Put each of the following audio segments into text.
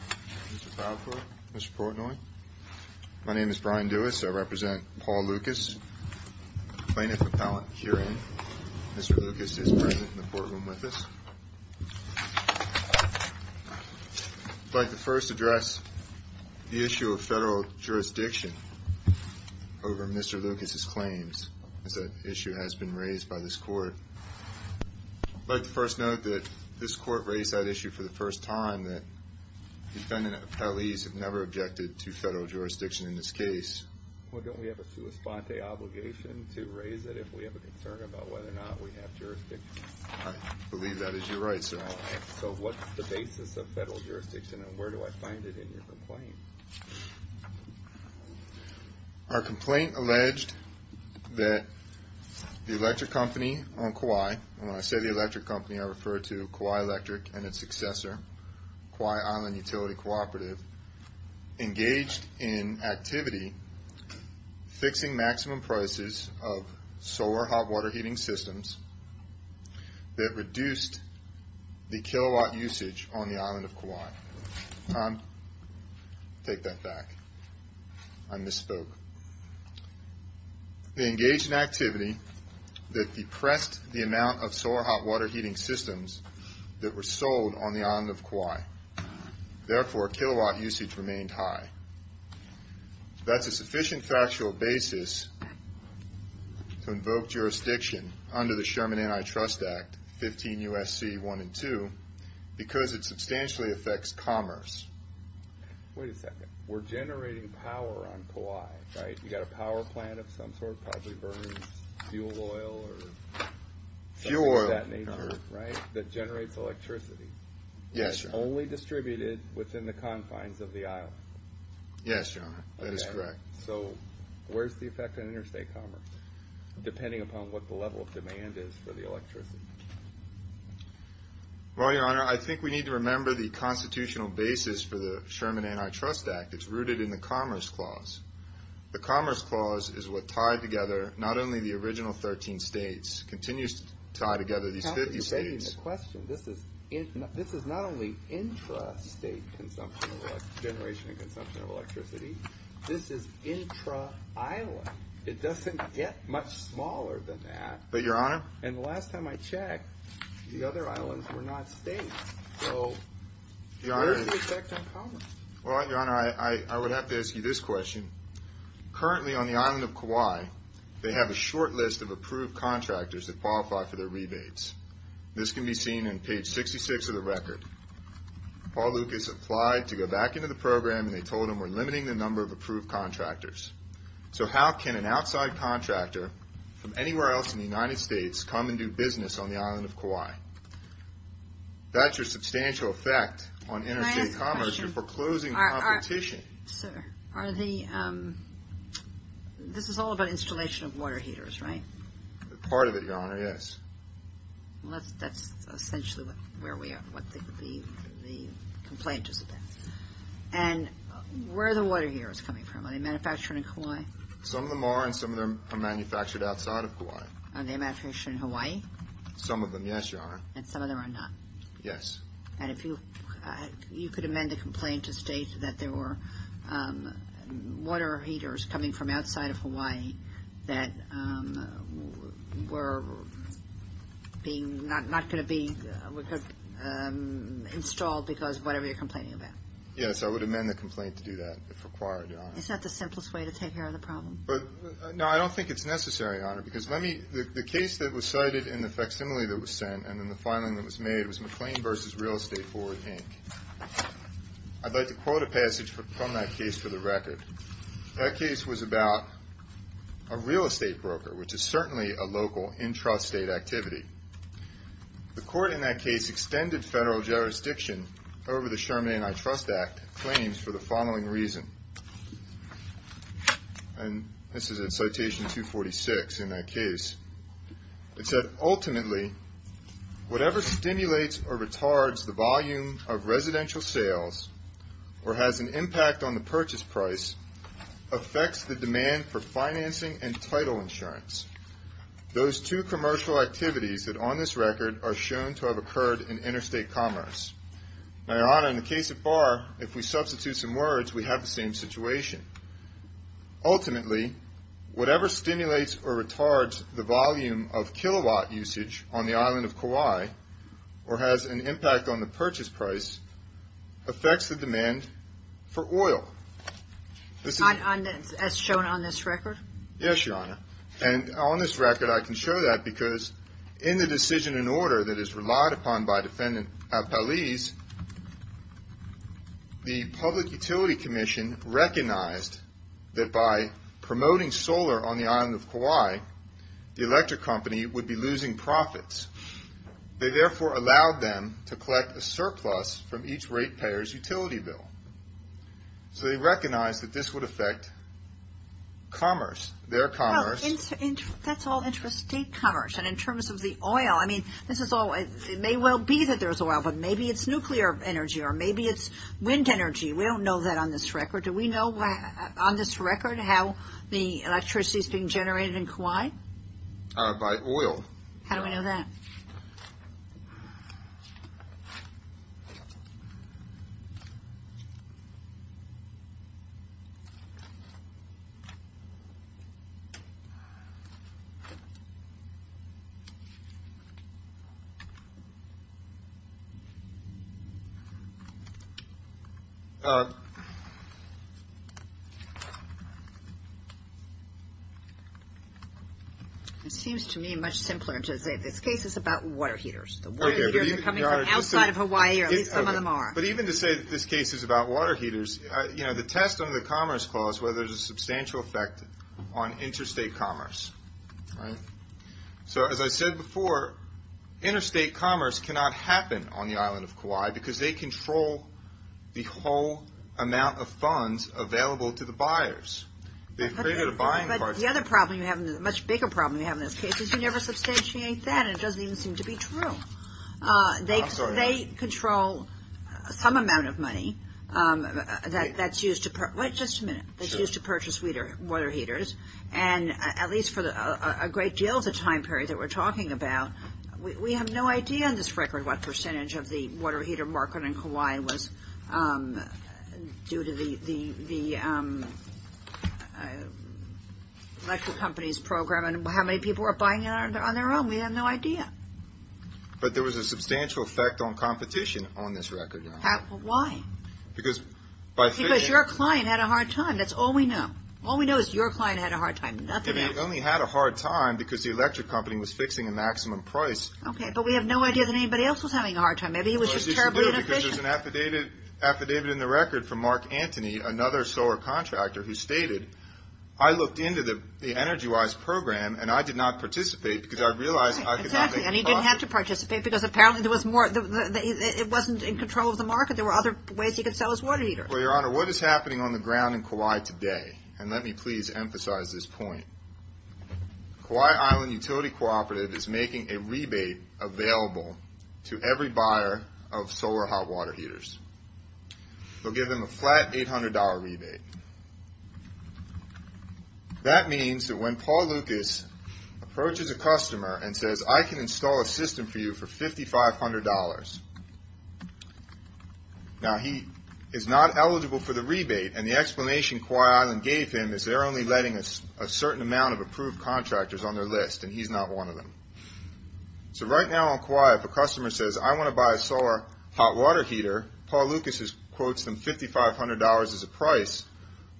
Mr. Falkor, Mr. Portnoy, my name is Brian Dewis. I represent Paul Lucas plaintiff appellant hearing. Mr. Lucas is present in the courtroom with us. I'd like to first address the issue of federal jurisdiction over Mr. Lucas's claims as that issue has been raised by this court. I'd like to first note that this court raised that issue for the first time, that defendant appellees have never objected to federal jurisdiction in this case. Well, don't we have a sua sponte obligation to raise it if we have a concern about whether or not we have jurisdiction? I believe that is your right, sir. So what's the basis of federal jurisdiction and where do I find it in your complaint? Our complaint alleged that the electric company on Kauai, and when I say the electric company I refer to Kauai Electric and its successor, Kauai Island Utility Cooperative, engaged in activity fixing maximum prices of solar hot water heating systems that reduced the kilowatt usage on the island of Kauai. Tom, take that back. I misspoke. They engaged in activity that reduced the maximum prices that were sold on the island of Kauai. Therefore, kilowatt usage remained high. That's a sufficient factual basis to invoke jurisdiction under the Sherman Antitrust Act 15 U.S.C. 1 and 2 because it substantially affects commerce. Wait a second. We're generating power on Kauai, right? You got a power plant of some sort probably burning fuel oil or something of that nature, right? Fuel oil. That generates electricity. Yes, your honor. Only distributed within the confines of the island. Yes, your honor. That is correct. So where's the effect on interstate commerce depending upon what the level of demand is for the electricity? Well, your honor, I think we need to remember the constitutional basis for the Sherman Antitrust Act. It's rooted in the Commerce Clause. The Commerce Clause is what tied together not only the original 13 states, continues to tie together these 50 states. This is not only intrastate generation and consumption of electricity. This is intra-island. It doesn't get much smaller than that. But your honor? And the last time I checked, the other islands were not states. So where's the effect on commerce? Well, your honor, I would have to ask you this question. Currently on the island of Kauai, they have a short list of approved contractors that qualify for their rebates. This can be seen on page 66 of the record. Paul Lucas applied to go back into the program and they told him we're limiting the number of approved contractors. So how can an outside contractor from anywhere else in the United States come and do business on the island of Kauai? That's your substantial effect on competition. Sir, this is all about installation of water heaters, right? Part of it, your honor, yes. Well, that's essentially where we are, what the complaint is about. And where are the water heaters coming from? Are they manufactured in Kauai? Some of them are and some of them are manufactured outside of Kauai. Are they manufactured in Hawaii? Some of them, yes, your honor. And some of them are not? Yes. And if you could amend the complaint to state that there were water heaters coming from outside of Hawaii that were being not going to be installed because whatever you're complaining about. Yes, I would amend the complaint to do that if required. Is that the simplest way to take care of the problem? No, I don't think it's necessary, your honor, because the case that was cited in the facsimile that was sent and in the filing that was made was McLean v. Real Estate, Ford, Inc. I'd like to quote a passage from that case for the record. That case was about a real estate broker, which is certainly a local, intrastate activity. The court in that case extended federal jurisdiction over the Sherman Antitrust Act claims for the following reason. And this is in citation 246 in that case. It said, ultimately, whatever stimulates or retards the volume of residential sales or has an impact on the purchase price affects the demand for financing and title insurance. Those two commercial activities that on this record are shown to have occurred in interstate commerce. Now, your honor, in the case of FAR, if we substitute some words, we have the same situation. Ultimately, whatever stimulates or retards the volume of kilowatt usage on the island of Kauai or has an impact on the purchase price affects the demand for oil. As shown on this record? Yes, your honor. And on this record, I can show that because in the decision and order that is relied upon by defendant Apalis, the Public Utility Commission recognized that by promoting solar on the island of Kauai, the electric company would be losing profits. They therefore allowed them to collect a surplus from each rate payer's utility bill. So they recognized that this would affect commerce, their commerce. That's all interstate commerce. And in terms of the oil, I mean, this is all, it may well be that there's oil, but maybe it's nuclear energy or maybe it's wind energy. We don't know that on this record. Do we know on this record how the electricity is being generated in Kauai? By oil. How do we know that? It seems to me much simpler to say this case is about water heaters. The water heaters are coming from outside of Hawaii or at least some of them are. But even to say that this case is about water heaters, you know, the test under the Commerce Clause where there's a substantial effect on interstate commerce, right? So as I said before, interstate commerce cannot happen on the island of Kauai because they control the whole amount of funds available to the buyers. They've created a much bigger problem we have in those cases. You never substantiate that and it doesn't even seem to be true. They control some amount of money that's used to purchase water heaters. And at least for a great deal of the time period that we're talking about, we have no idea on this record what program and how many people are buying it on their own. We have no idea. But there was a substantial effect on competition on this record. Why? Because your client had a hard time. That's all we know. All we know is your client had a hard time. They only had a hard time because the electric company was fixing a maximum price. Okay, but we have no idea that anybody else was having a hard time. Maybe he was just terribly inefficient. There's an affidavit in the record from Mark Antony, another solar contractor, who stated, I looked into the EnergyWise program and I did not participate because I realized I could not make a profit. Exactly, and he didn't have to participate because apparently it wasn't in control of the market. There were other ways he could sell his water heater. Well, Your Honor, what is happening on the ground in Kauai today? And let me please emphasize this point. Kauai Island Utility Cooperative is making a rebate available to every buyer of solar hot water heaters. They'll give them a flat $800 rebate. That means that when Paul Lucas approaches a customer and says, I can install a system for you for $5,500. Now, he is not eligible for the rebate, and the explanation Kauai Island gave him is they're only letting a certain amount of approved contractors on their list, and he's not one of them. So right now on Kauai, if a buyer saw a hot water heater, Paul Lucas quotes them $5,500 as a price.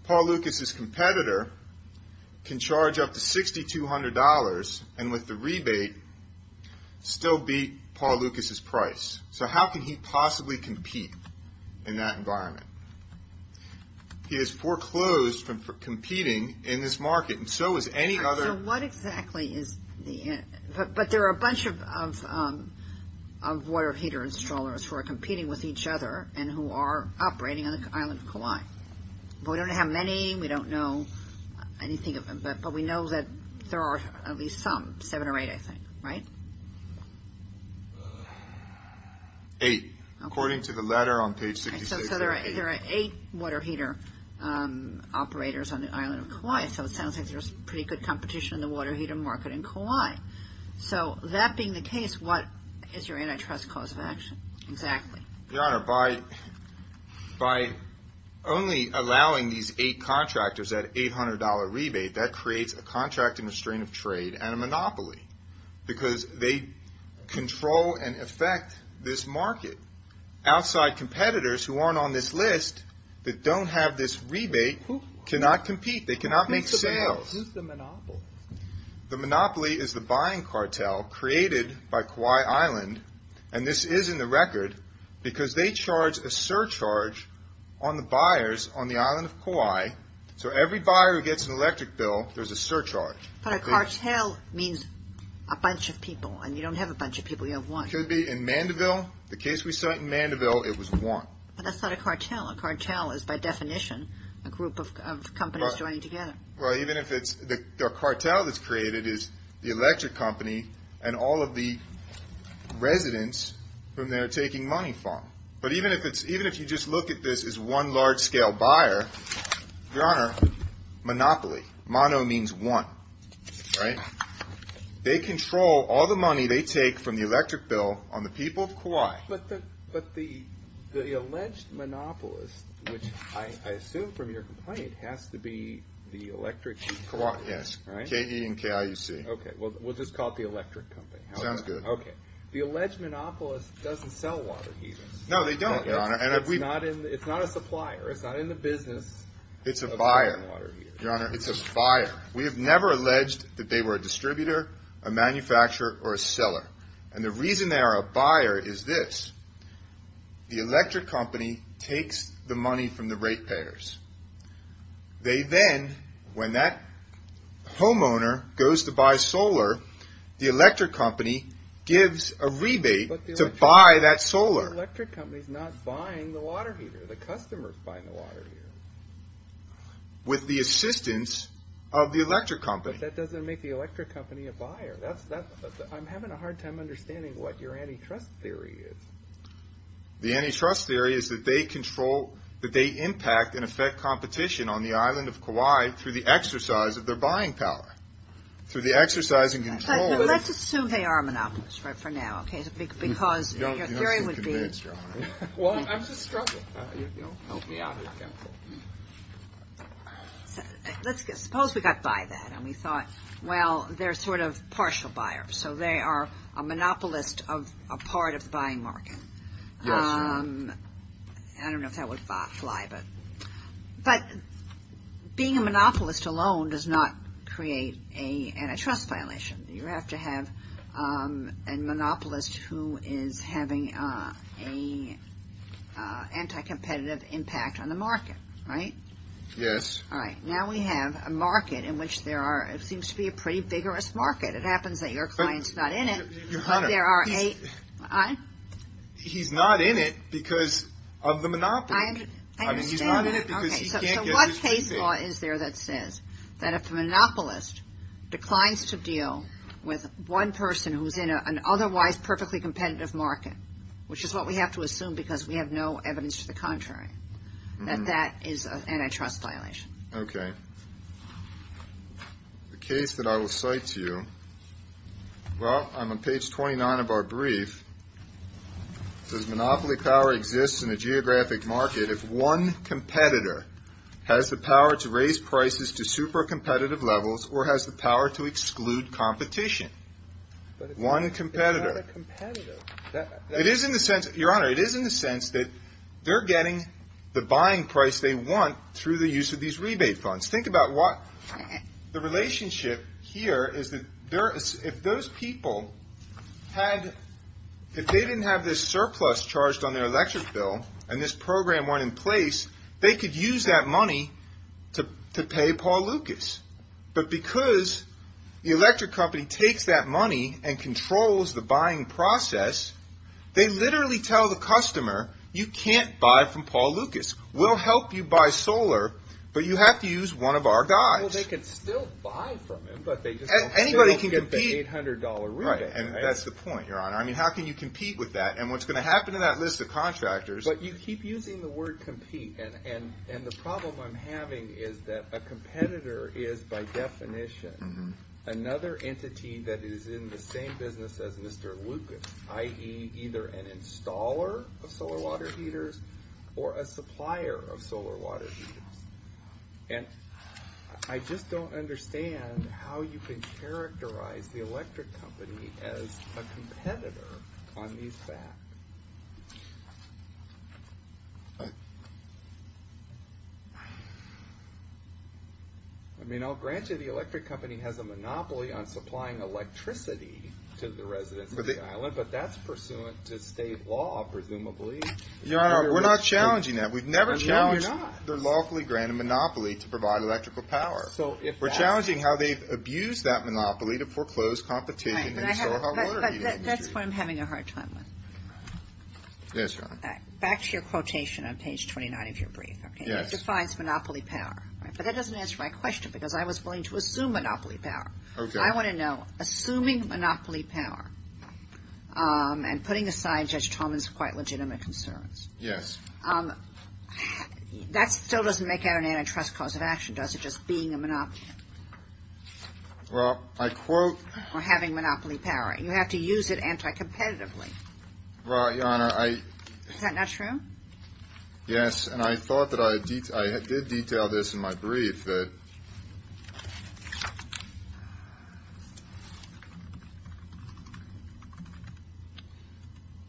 Paul Lucas' competitor can charge up to $6,200 and with the rebate still beat Paul Lucas' price. So how can he possibly compete in that environment? He has foreclosed from competing in this market, and so has any other. So what installers who are competing with each other and who are operating on the island of Kauai? We don't know how many, we don't know anything, but we know that there are at least some, seven or eight, I think, right? Eight, according to the letter on page 66. So there are eight water heater operators on the island of Kauai. So it sounds like there's pretty good competition in the water heater market in Kauai. So that being the case, what is your antitrust cause of action? Exactly. Your Honor, by only allowing these eight contractors that $800 rebate, that creates a contract in restraint of trade and a monopoly, because they control and affect this market. Outside competitors who aren't on this list, that don't have this rebate, cannot compete. They cannot make sales. Who's the monopoly? The monopoly is the buying cartel created by Kauai Island. And this is in the record, because they charge a surcharge on the buyers on the island of Kauai. So every buyer who gets an electric bill, there's a surcharge. But a cartel means a bunch of people, and you don't have a bunch of people, you have one. Could be in Mandeville. The case we cite in Mandeville, it was one. But that's not a cartel. A cartel is by definition, a group of companies joining together. Well, even if it's, the cartel that's created is the electric company and all of the residents whom they're taking money from. But even if it's, even if you just look at this as one large scale buyer, Your Honor, monopoly, mono means one, right? They control all the money they take from the electric bill on the people of Kauai. But the alleged monopolist, which I assume from your complaint, has to be the electric company, right? Yes, KE and KAUC. Okay, well, we'll just call it the electric company. Sounds good. Okay. The alleged monopolist doesn't sell water heaters. No, they don't, Your Honor. And it's not a supplier. It's not in the business. It's a buyer. Your Honor, it's a buyer. We have never alleged that they were a distributor, a The electric company takes the money from the rate payers. They then, when that homeowner goes to buy solar, the electric company gives a rebate to buy that solar. But the electric company's not buying the water heater. The customer's buying the water heater. With the assistance of the electric company. But that doesn't make the electric company a buyer. That's, I'm having a hard time understanding what your antitrust theory is. The antitrust theory is that they control, that they impact and affect competition on the island of Kauai through the exercise of their buying power, through the exercise and control. Let's assume they are a monopolist, right? For now. Okay, because your theory would be. Well, I'm just struggling. Let's suppose we got by that and we thought, well, they're sort of partial buyers. So they are a monopolist of a part of the buying market. I don't know if that would fly, but being a monopolist alone does not create a antitrust violation. You have to have a monopolist who is having a anti-competitive impact on the market, right? Yes. All right. Now we have a market in which there are, it seems to be a pretty vigorous market. It happens that your client's not in it, but there are eight. He's not in it because of the monopoly. I understand that. Okay, so what case law is there that says that if the monopolist declines to deal with one person who's in an otherwise perfectly competitive market, which is what we have to assume because we have no evidence to the contrary, that that is an antitrust violation. Okay. The case that I will cite to you, well, on page 29 of our brief, says monopoly power exists in a geographic market if one competitor has the power to raise prices to super competitive levels or has the power to exclude competition. But one competitor, it is in the sense, Your Honor, it is in the sense that they're getting the buying price they want through the use of these rebate funds. Think about what the relationship here is that if those people had, if they didn't have this surplus charged on their electric bill and this program weren't in place, they could use that money to pay Paul Lucas. But because the electric company takes that money and controls the buying process, they literally tell the customer, you can't buy from Paul Lucas. We'll help you buy solar, but you have to use one of our guys. Well, they could still buy from him, but they just don't care about the $800 rebate, right? Anybody can compete, and that's the point, Your Honor. I mean, how can you compete with that? And what's going to happen to that list of contractors? But you keep using the word compete, and the problem I'm having is that a competitor is by definition another entity that is in the same business as Mr. Lucas, i.e. either an installer of solar water heaters or a supplier of solar water heaters. And I just don't understand how you can characterize the electric company as a competitor on these facts. I mean, I'll grant you the electric company has a monopoly on supplying electricity to the residents of the island. But that's pursuant to state law, presumably. Your Honor, we're not challenging that. We've never challenged their lawfully granted monopoly to provide electrical power. We're challenging how they've abused that monopoly to foreclose competition in the solar water heating industry. That's what I'm having a hard time with. Yes, Your Honor. Back to your quotation on page 29 of your brief, okay? It defines monopoly power, right? But that doesn't answer my question, because I was willing to assume monopoly power. I want to know, assuming monopoly power, and putting aside Judge Tolman's quite legitimate concerns. Yes. That still doesn't make it an antitrust cause of action, does it? Just being a monopoly. Well, I quote- Or having monopoly power. You have to use it anti-competitively. Well, Your Honor, I- Is that not true? Yes, and I thought that I did detail this in my brief, that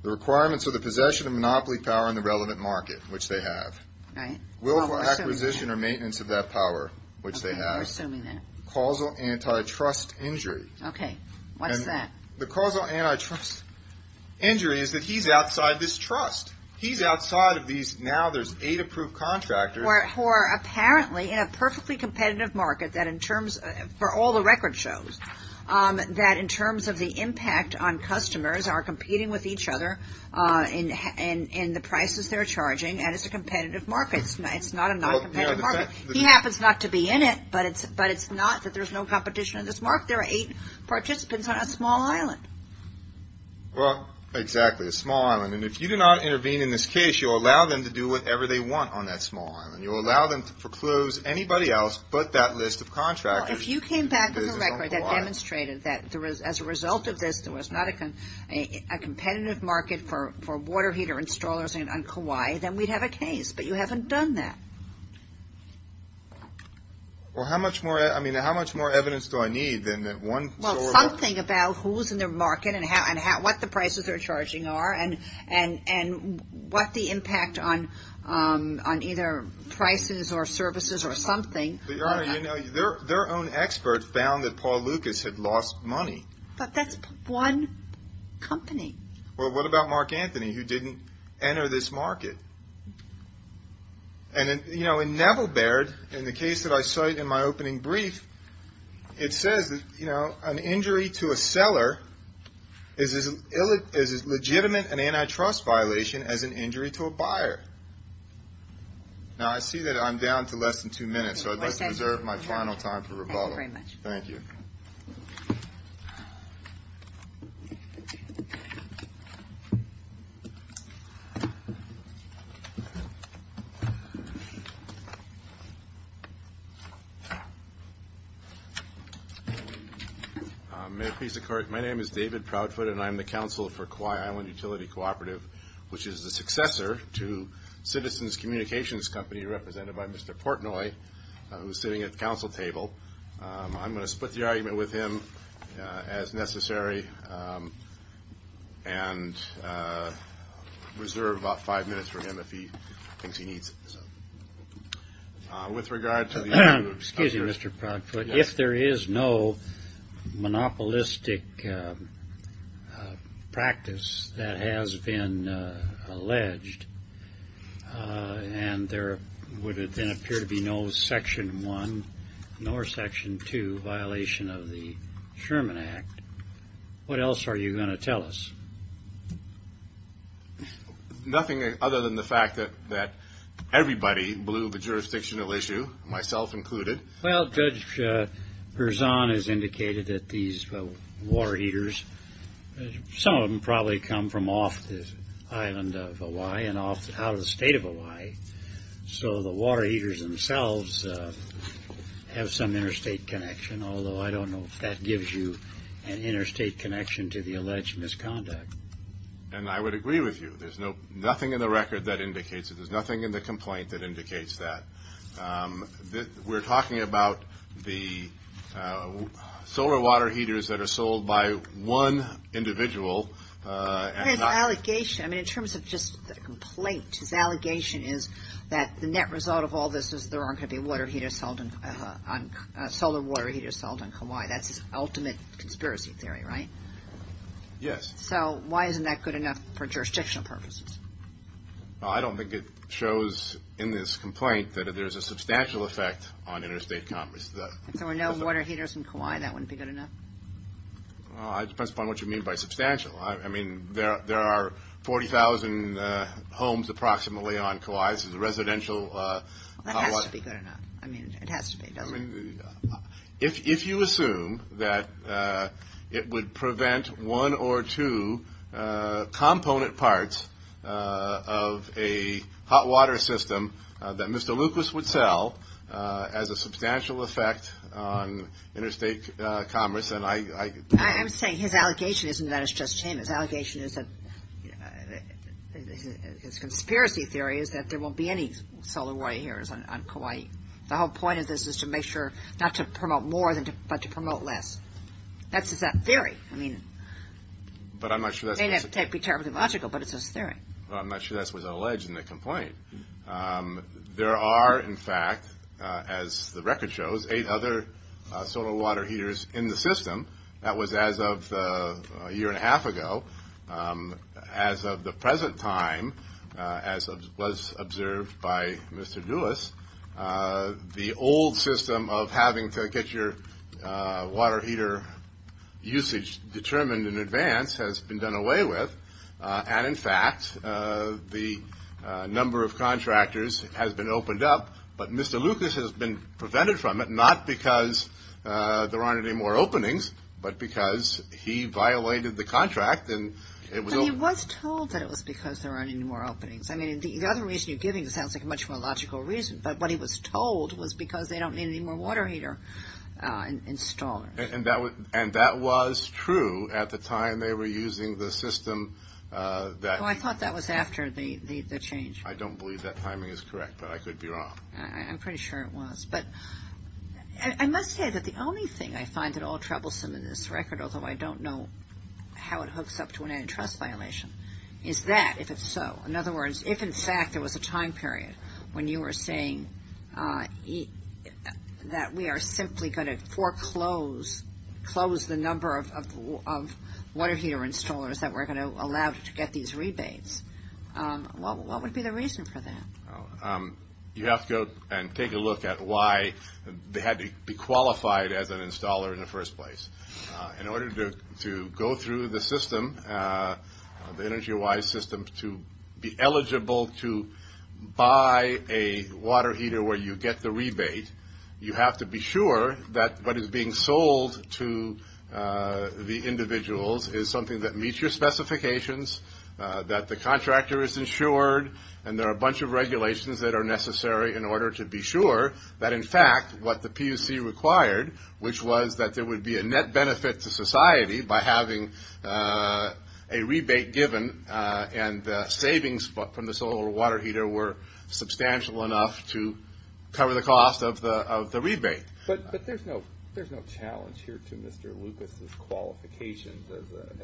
the requirements of the possession of monopoly power in the relevant market, which they have. Right. Willful acquisition or maintenance of that power, which they have. Okay, we're assuming that. Causal antitrust injury. Okay, what's that? The causal antitrust injury is that he's outside this trust. He's outside of these, now there's eight approved contractors- Who are apparently in a perfectly competitive market that in terms, for all the record shows, that in terms of the impact on customers are competing with each other in the prices they're charging. And it's a competitive market. It's not a non-competitive market. He happens not to be in it, but it's not that there's no competition in this market. There are eight participants on a small island. Well, exactly, a small island. And if you do not intervene in this case, you'll allow them to do whatever they want on that small island. You'll allow them to procluse anybody else but that list of contractors. If you came back with a record that demonstrated that as a result of this, there was not a competitive market for water heater installers on Kauai, then we'd have a case, but you haven't done that. Well, how much more, I mean, how much more evidence do I need than that one- Well, something about who's in their market and what the prices they're charging are and what the impact on either prices or services or something. But, Your Honor, their own experts found that Paul Lucas had lost money. But that's one company. Well, what about Mark Anthony, who didn't enter this market? And, you know, in Neville Baird, in the case that I cite in my opening brief, it says, you know, an injury to a seller is as legitimate an antitrust violation as an injury to a buyer. Now, I see that I'm down to less than two minutes, so I'd like to reserve my final time for rebuttal. Thank you. May it please the Court, my name is David Proudfoot, and I'm the counsel for Kauai Island Utility Cooperative, which is the successor to Citizens Communications Company, represented by Mr. Portnoy, who's sitting at the counsel table. I'm going to split the argument with him as necessary and reserve about five minutes for him if he thinks he needs it. With regard to the... Excuse me, Mr. Proudfoot, if there is no monopolistic practice that has been alleged, and there would then appear to be no Section 1 nor Section 2 violation of the Sherman Act, what else are you going to tell us? Nothing other than the fact that everybody blew the jurisdictional issue, myself included. Well, Judge Berzon has indicated that these water heaters, some of them probably come from off the island of Hawaii and out of the state of Hawaii, so the water heaters themselves have some interstate connection, although I don't know if that gives you an interstate connection to the alleged misconduct. And I would agree with you. There's nothing in the record that indicates it. There's nothing in the complaint that indicates that. We're talking about the solar water heaters that are sold by one individual. His allegation, I mean, in terms of just the complaint, his allegation is that the net result of all this is there aren't going to be solar water heaters sold in Kauai. That's his ultimate conspiracy theory, right? Yes. So why isn't that good enough for jurisdictional purposes? I don't think it shows in this complaint that there's a substantial effect on interstate commerce. If there were no water heaters in Kauai, that wouldn't be good enough? It depends upon what you mean by substantial. I mean, there are 40,000 homes approximately on Kauai. This is a residential hot water. That has to be good enough. I mean, it has to be, doesn't it? If you assume that it would prevent one or two component parts of a hot water system that Mr. Lucas would sell as a substantial effect on interstate commerce, then I don't know. I'm saying his allegation isn't that it's just him. His allegation is that, his conspiracy theory is that there won't be any solar water heaters on Kauai. The whole point of this is to make sure, not to promote more, but to promote less. That's his theory. I mean, it may not be terribly logical, but it's his theory. Well, I'm not sure that was alleged in the complaint. There are, in fact, as the record shows, eight other solar water heaters in the system. That was as of a year and a half ago. As of the present time, as was observed by Mr. Duis, the old system of having to get your water heater usage determined in advance has been done away with, and, in fact, the number of contractors has been opened up, but Mr. Lucas has been prevented from it, not because there aren't any more openings, but because he violated the contract. He was told that it was because there aren't any more openings. I mean, the other reason you're giving sounds like a much more logical reason, but what he was told was because they don't need any more water heater installers. And that was true at the time they were using the system. I thought that was after the change. I don't believe that timing is correct, but I could be wrong. I'm pretty sure it was. But I must say that the only thing I find at all troublesome in this record, although I don't know how it hooks up to an antitrust violation, is that, if it's so, in other words, if, in fact, there was a time period when you were saying that we are simply going to foreclose, close the number of water heater installers that were going to allow to get these rebates, what would be the reason for that? You have to go and take a look at why they had to be qualified as an installer in the first place. In order to go through the system, the EnergyWise system, to be eligible to buy a water heater where you get the rebate, you have to be sure that what is being sold to the individuals is something that meets your specifications, that the contractor is insured, and there are a bunch of regulations that are necessary in order to be sure that, in fact, what the PUC required, which was that there would be a net benefit to society by having a rebate given, and the savings from the solar water heater were substantial enough to cover the cost of the rebate. But there's no challenge here to Mr. Lucas's qualifications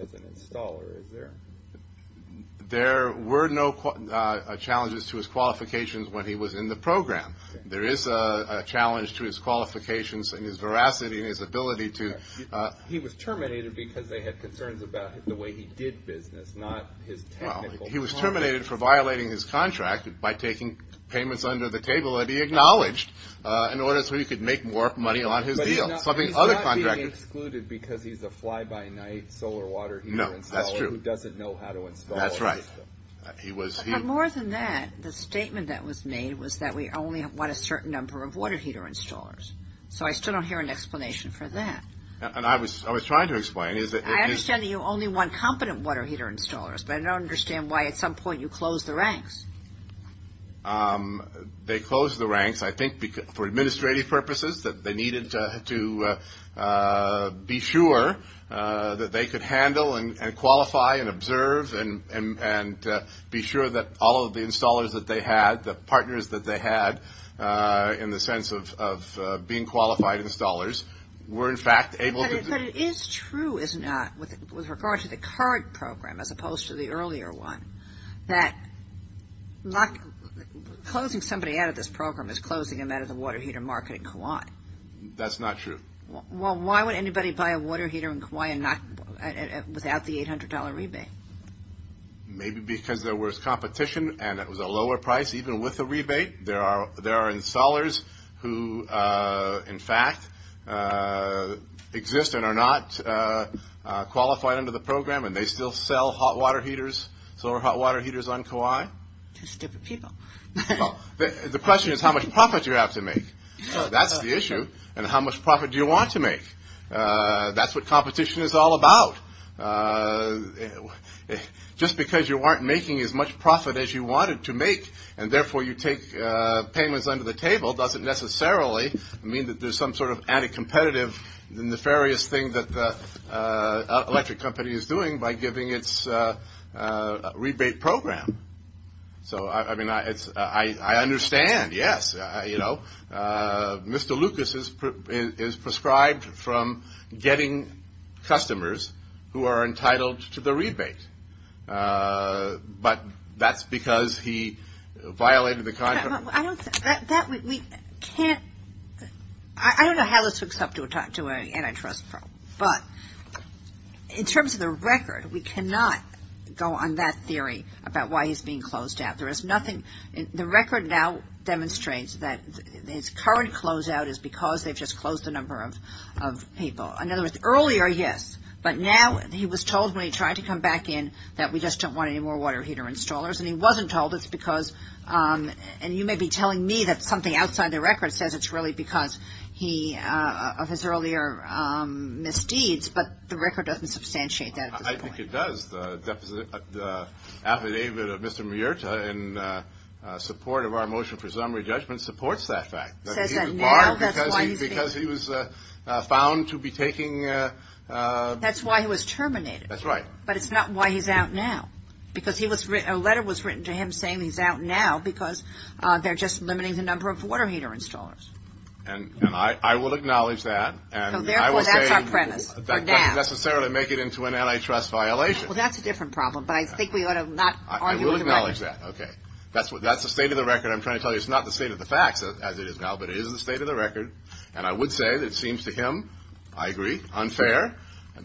as an installer, is there? There were no challenges to his qualifications when he was in the program. There is a challenge to his qualifications and his veracity and his ability to – He was terminated because they had concerns about the way he did business, not his technical – Well, he was terminated for violating his contract by taking payments under the table that he acknowledged in order so he could make more money on his deal. But he's not being excluded because he's a fly-by-night solar water heater installer who doesn't know how to install a system. That's right. But more than that, the statement that was made was that we only want a certain number of water heater installers. So I still don't hear an explanation for that. And I was trying to explain. I understand that you only want competent water heater installers, but I don't understand why at some point you close the ranks. They closed the ranks, I think, for administrative purposes, that they needed to be sure that they could handle and qualify and observe and be sure that all of the installers that they had, the partners that they had in the sense of being qualified installers, were in fact able to – But it is true, is it not, with regard to the current program as opposed to the earlier one, that closing somebody out of this program is closing them out of the water heater market in Kauai. That's not true. Well, why would anybody buy a water heater in Kauai without the $800 rebate? Maybe because there was competition and it was a lower price, even with a rebate. There are installers who, in fact, exist and are not qualified under the program, and they still sell hot water heaters, solar hot water heaters on Kauai. Just different people. The question is how much profit you have to make. That's the issue, and how much profit do you want to make. That's what competition is all about. Just because you weren't making as much profit as you wanted to make and therefore you take payments under the table doesn't necessarily mean that there's some sort of anti-competitive, nefarious thing that the electric company is doing by giving its rebate program. So, I mean, I understand, yes. You know, Mr. Lucas is prescribed from getting customers who are entitled to the rebate, but that's because he violated the contract. I don't know how this hooks up to an antitrust problem, but in terms of the record, we cannot go on that theory about why he's being closed out. There is nothing. The record now demonstrates that his current closeout is because they've just closed the number of people. In other words, earlier, yes, but now he was told when he tried to come back in that we just don't want any more water heater installers, and he wasn't told it's because, and you may be telling me that something outside the record says it's really because he, of his earlier misdeeds, but the record doesn't substantiate that at this point. I think it does. The affidavit of Mr. Miurta in support of our motion for summary judgment supports that fact. He was barred because he was found to be taking. That's why he was terminated. That's right. But it's not why he's out now, because a letter was written to him saying he's out now because they're just limiting the number of water heater installers. And I will acknowledge that. Therefore, that's our premise for now. That doesn't necessarily make it into an antitrust violation. Well, that's a different problem, but I think we ought to not argue about it. I will acknowledge that. Okay. That's the state of the record I'm trying to tell you. It's not the state of the facts as it is now, but it is the state of the record, and I would say that it seems to him, I agree, unfair.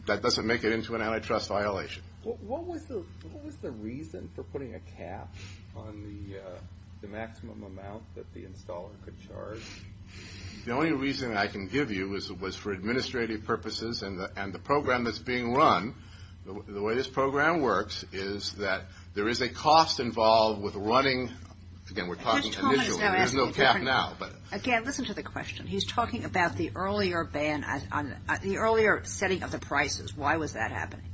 That doesn't make it into an antitrust violation. What was the reason for putting a cap on the maximum amount that the installer could charge? The only reason I can give you was for administrative purposes, and the program that's being run, the way this program works is that there is a cost involved with running. Again, we're talking initially. There's no cap now. Again, listen to the question. He's talking about the earlier setting of the prices. Why was that happening?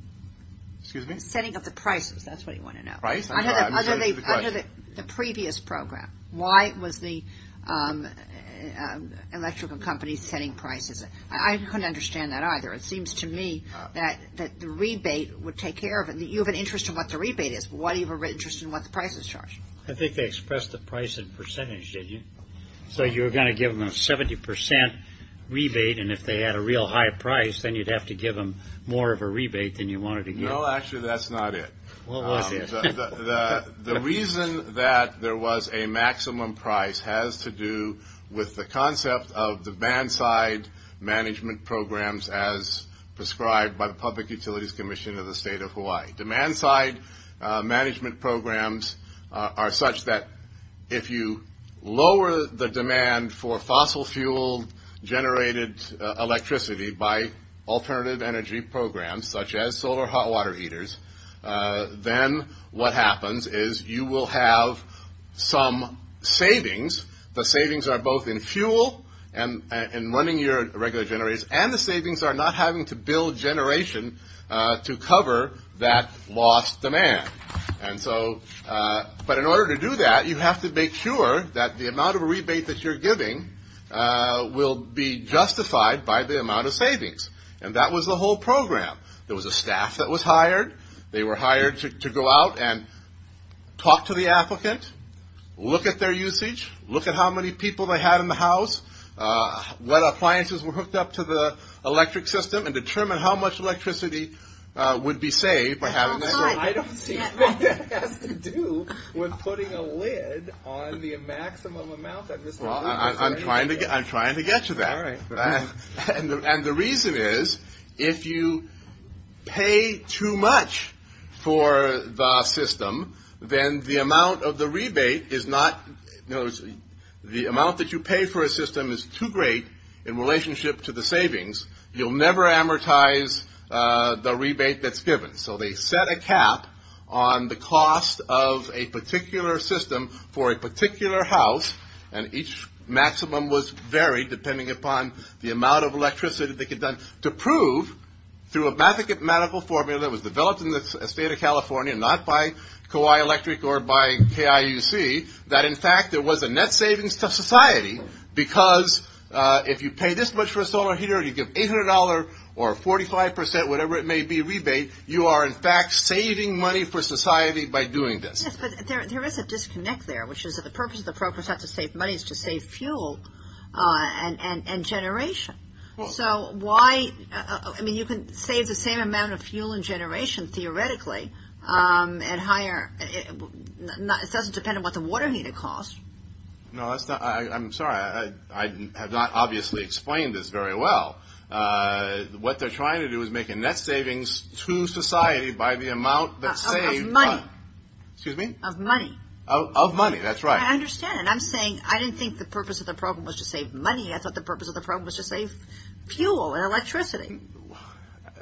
Excuse me? Setting of the prices. That's what he wanted to know. Under the previous program, why was the electrical company setting prices? I couldn't understand that either. It seems to me that the rebate would take care of it. You have an interest in what the rebate is, but why do you have an interest in what the prices charge? I think they expressed the price in percentage, didn't you? So you were going to give them a 70% rebate, and if they had a real high price, then you'd have to give them more of a rebate than you wanted to give them. No, actually, that's not it. What was it? The reason that there was a maximum price has to do with the concept of demand-side management programs as prescribed by the Public Utilities Commission of the State of Hawaii. Demand-side management programs are such that if you lower the demand for fossil-fuel-generated electricity by alternative energy programs such as solar hot water heaters, then what happens is you will have some savings. The savings are both in fuel and running your regular generators, and the savings are not having to build generation to cover that lost demand. But in order to do that, you have to make sure that the amount of rebate that you're giving will be justified by the amount of savings, and that was the whole program. There was a staff that was hired. They were hired to go out and talk to the applicant, look at their usage, look at how many people they had in the house, what appliances were hooked up to the electric system, and determine how much electricity would be saved by having that. I don't see what that has to do with putting a lid on the maximum amount that Mr. Lieber is paying. I'm trying to get to that. All right. And the reason is if you pay too much for the system, then the amount of the rebate is not – the amount that you pay for a system is too great in relationship to the savings. You'll never amortize the rebate that's given. So they set a cap on the cost of a particular system for a particular house, and each maximum was varied depending upon the amount of electricity that they could get done, to prove through a mathematical formula that was developed in the state of California, not by Kauai Electric or by KIUC, that, in fact, there was a net savings to society because if you pay this much for a solar heater and you give $800 or 45%, whatever it may be, rebate, you are, in fact, saving money for society by doing this. Yes, but there is a disconnect there, which is that the purpose of the program is not to save money. It's to save fuel and generation. So why – I mean, you can save the same amount of fuel and generation, theoretically, and hire – it doesn't depend on what the water heater costs. No, that's not – I'm sorry. I have not obviously explained this very well. What they're trying to do is make a net savings to society by the amount that's saved. Of money. Excuse me? Of money. Of money, that's right. I understand, and I'm saying I didn't think the purpose of the program was to save money. I thought the purpose of the program was to save fuel and electricity.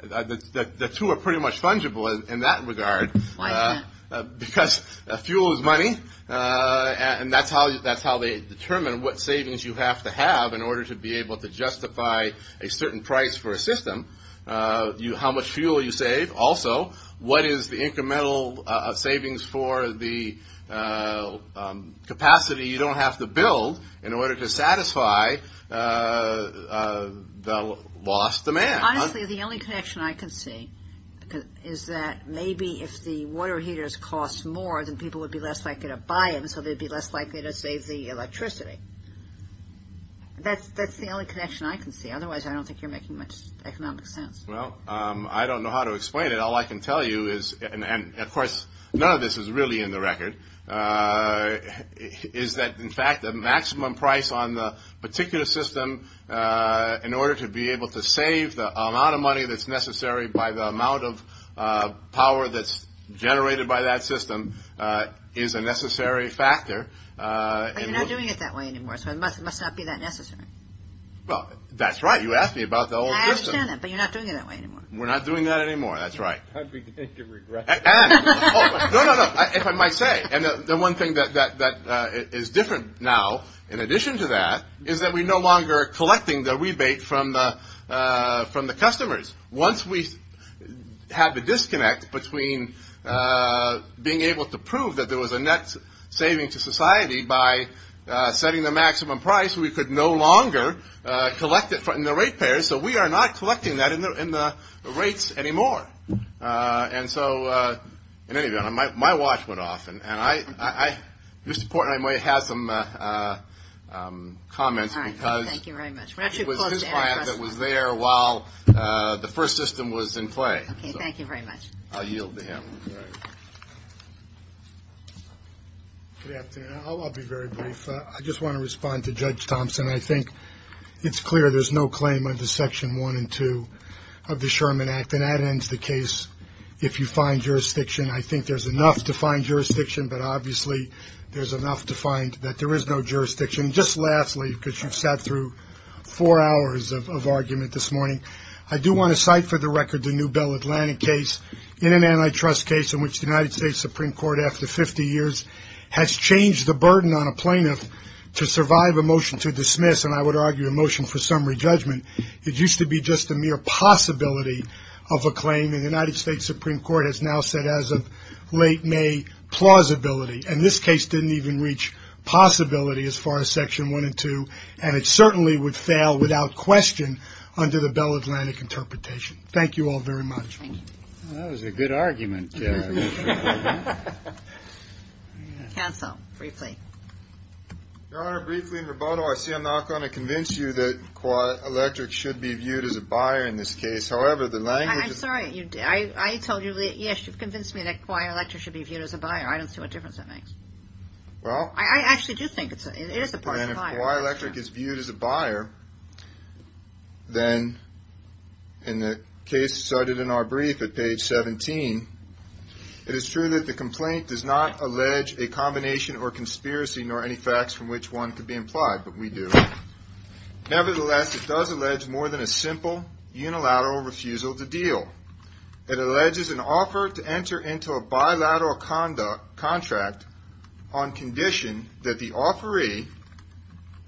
The two are pretty much fungible in that regard. Why is that? Because fuel is money, and that's how they determine what savings you have to have in order to be able to justify a certain price for a system. How much fuel you save, also. What is the incremental savings for the capacity you don't have to build in order to satisfy the lost demand? Honestly, the only connection I can see is that maybe if the water heaters cost more, then people would be less likely to buy them, so they'd be less likely to save the electricity. That's the only connection I can see. Otherwise, I don't think you're making much economic sense. Well, I don't know how to explain it. All I can tell you is, and, of course, none of this is really in the record, is that, in fact, the maximum price on the particular system in order to be able to save the amount of money that's necessary by the amount of power that's generated by that system is a necessary factor. But you're not doing it that way anymore, so it must not be that necessary. Well, that's right. You asked me about the old system. I understand that, but you're not doing it that way anymore. We're not doing that anymore. That's right. I'm beginning to regret it. No, no, no. If I might say, and the one thing that is different now, in addition to that, is that we're no longer collecting the rebate from the customers. Once we had the disconnect between being able to prove that there was a net saving to society by setting the maximum price, we could no longer collect it in the rate payers, so we are not collecting that in the rates anymore. And so, in any event, my watch went off. And I, Mr. Portman, I might have some comments because it was his client that was there while the first system was in play. Okay. Thank you very much. I'll yield to him. All right. Good afternoon. I'll be very brief. I just want to respond to Judge Thompson. I think it's clear there's no claim under Section 1 and 2 of the Sherman Act, and that ends the case. If you find jurisdiction, I think there's enough to find jurisdiction, but obviously there's enough to find that there is no jurisdiction. Just lastly, because you've sat through four hours of argument this morning, I do want to cite for the record the New Bell Atlantic case, in an antitrust case in which the United States Supreme Court, after 50 years, has changed the burden on a plaintiff to survive a motion to dismiss, and I would argue a motion for summary judgment. It used to be just a mere possibility of a claim, and the United States Supreme Court has now said as of late May, plausibility. And this case didn't even reach possibility as far as Section 1 and 2, and it certainly would fail without question under the Bell Atlantic interpretation. Thank you all very much. That was a good argument. Counsel, briefly. Your Honor, briefly and verbatim, I see I'm not going to convince you that Kauai Electric should be viewed as a buyer in this case. However, the language is – I'm sorry. I told you, yes, you've convinced me that Kauai Electric should be viewed as a buyer. I don't see what difference that makes. Well – I actually do think it is a part of the buyer. And if Kauai Electric is viewed as a buyer, then in the case cited in our brief at page 17, it is true that the complaint does not allege a combination or conspiracy nor any facts from which one could be implied, but we do. Nevertheless, it does allege more than a simple unilateral refusal to deal. It alleges an offer to enter into a bilateral contract on condition that the offeree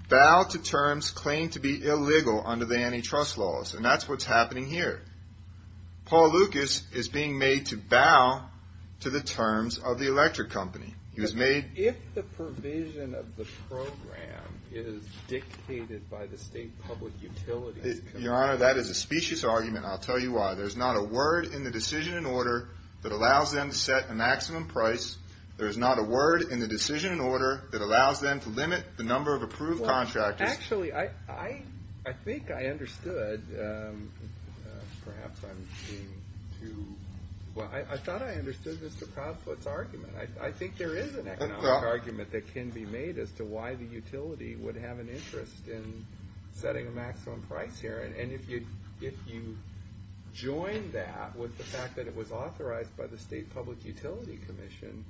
bow to terms claimed to be illegal under the antitrust laws. And that's what's happening here. Paul Lucas is being made to bow to the terms of the electric company. He was made – If the provision of the program is dictated by the state public utilities – Your Honor, that is a specious argument. I'll tell you why. There's not a word in the decision and order that allows them to set a maximum price. There's not a word in the decision and order that allows them to limit the number of approved contractors. Actually, I think I understood – perhaps I'm being too – Well, I thought I understood Mr. Proudfoot's argument. I think there is an economic argument that can be made as to why the utility would have an interest in setting a maximum price here. And if you join that with the fact that it was authorized by the state public utility commission,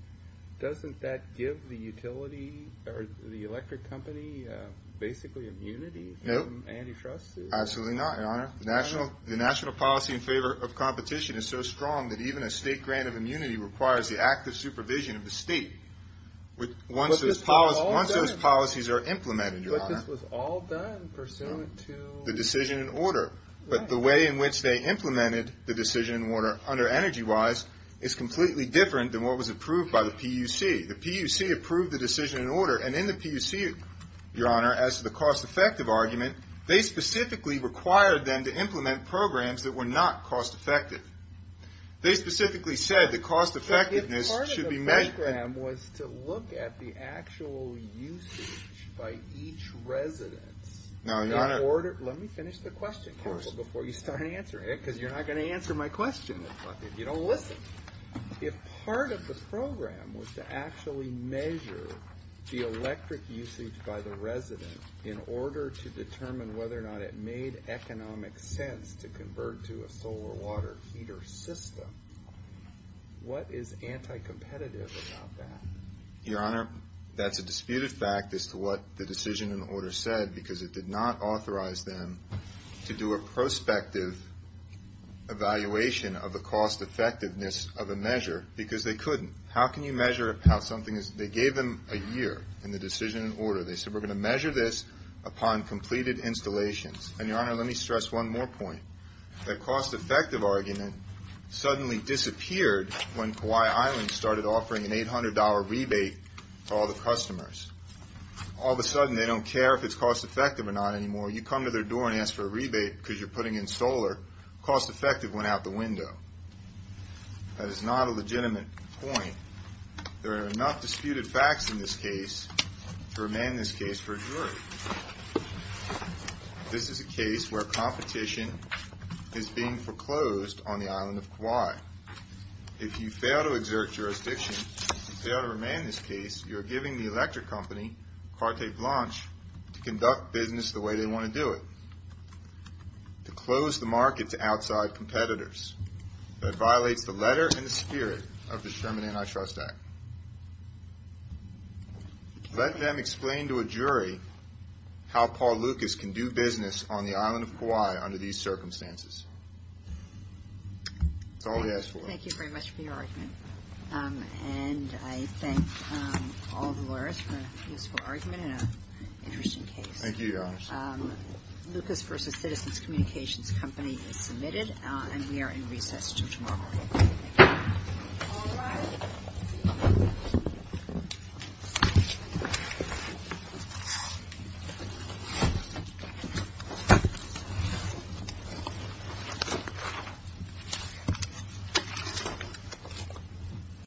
doesn't that give the utility or the electric company basically immunity from antitrusts? Absolutely not, Your Honor. The national policy in favor of competition is so strong that even a state grant of immunity requires the active supervision of the state. Once those policies are implemented, Your Honor – But this was all done pursuant to – The decision and order. But the way in which they implemented the decision and order under Energy Wise is completely different than what was approved by the PUC. The PUC approved the decision and order, and in the PUC, Your Honor, as to the cost-effective argument, they specifically required them to implement programs that were not cost-effective. They specifically said the cost-effectiveness should be measured – Part of the program was to look at the actual usage by each resident. Let me finish the question, Counsel, before you start answering it, because you're not going to answer my question if you don't listen. If part of the program was to actually measure the electric usage by the resident in order to determine whether or not it made economic sense to convert to a solar water heater system, what is anti-competitive about that? Your Honor, that's a disputed fact as to what the decision and order said because it did not authorize them to do a prospective evaluation of the cost-effectiveness of a measure because they couldn't. How can you measure how something is – They gave them a year in the decision and order. They said, We're going to measure this upon completed installations. And, Your Honor, let me stress one more point. The cost-effective argument suddenly disappeared when Kauai Island started offering an $800 rebate to all the customers. All of a sudden, they don't care if it's cost-effective or not anymore. You come to their door and ask for a rebate because you're putting in solar. Cost-effective went out the window. That is not a legitimate point. There are enough disputed facts in this case to remain this case for a jury. This is a case where competition is being foreclosed on the island of Kauai. If you fail to exert jurisdiction and fail to remain this case, you're giving the electric company, Carte Blanche, to conduct business the way they want to do it, to close the market to outside competitors. That violates the letter and the spirit of the Sherman Antitrust Act. Let them explain to a jury how Paul Lucas can do business on the island of Kauai under these circumstances. That's all he asked for. Thank you very much for your argument. And I thank all the lawyers for a useful argument and an interesting case. Thank you, Your Honor. Lucas v. Citizens Communications Company is submitted, and we are in recess until tomorrow morning. Thank you. All rise. Thank you.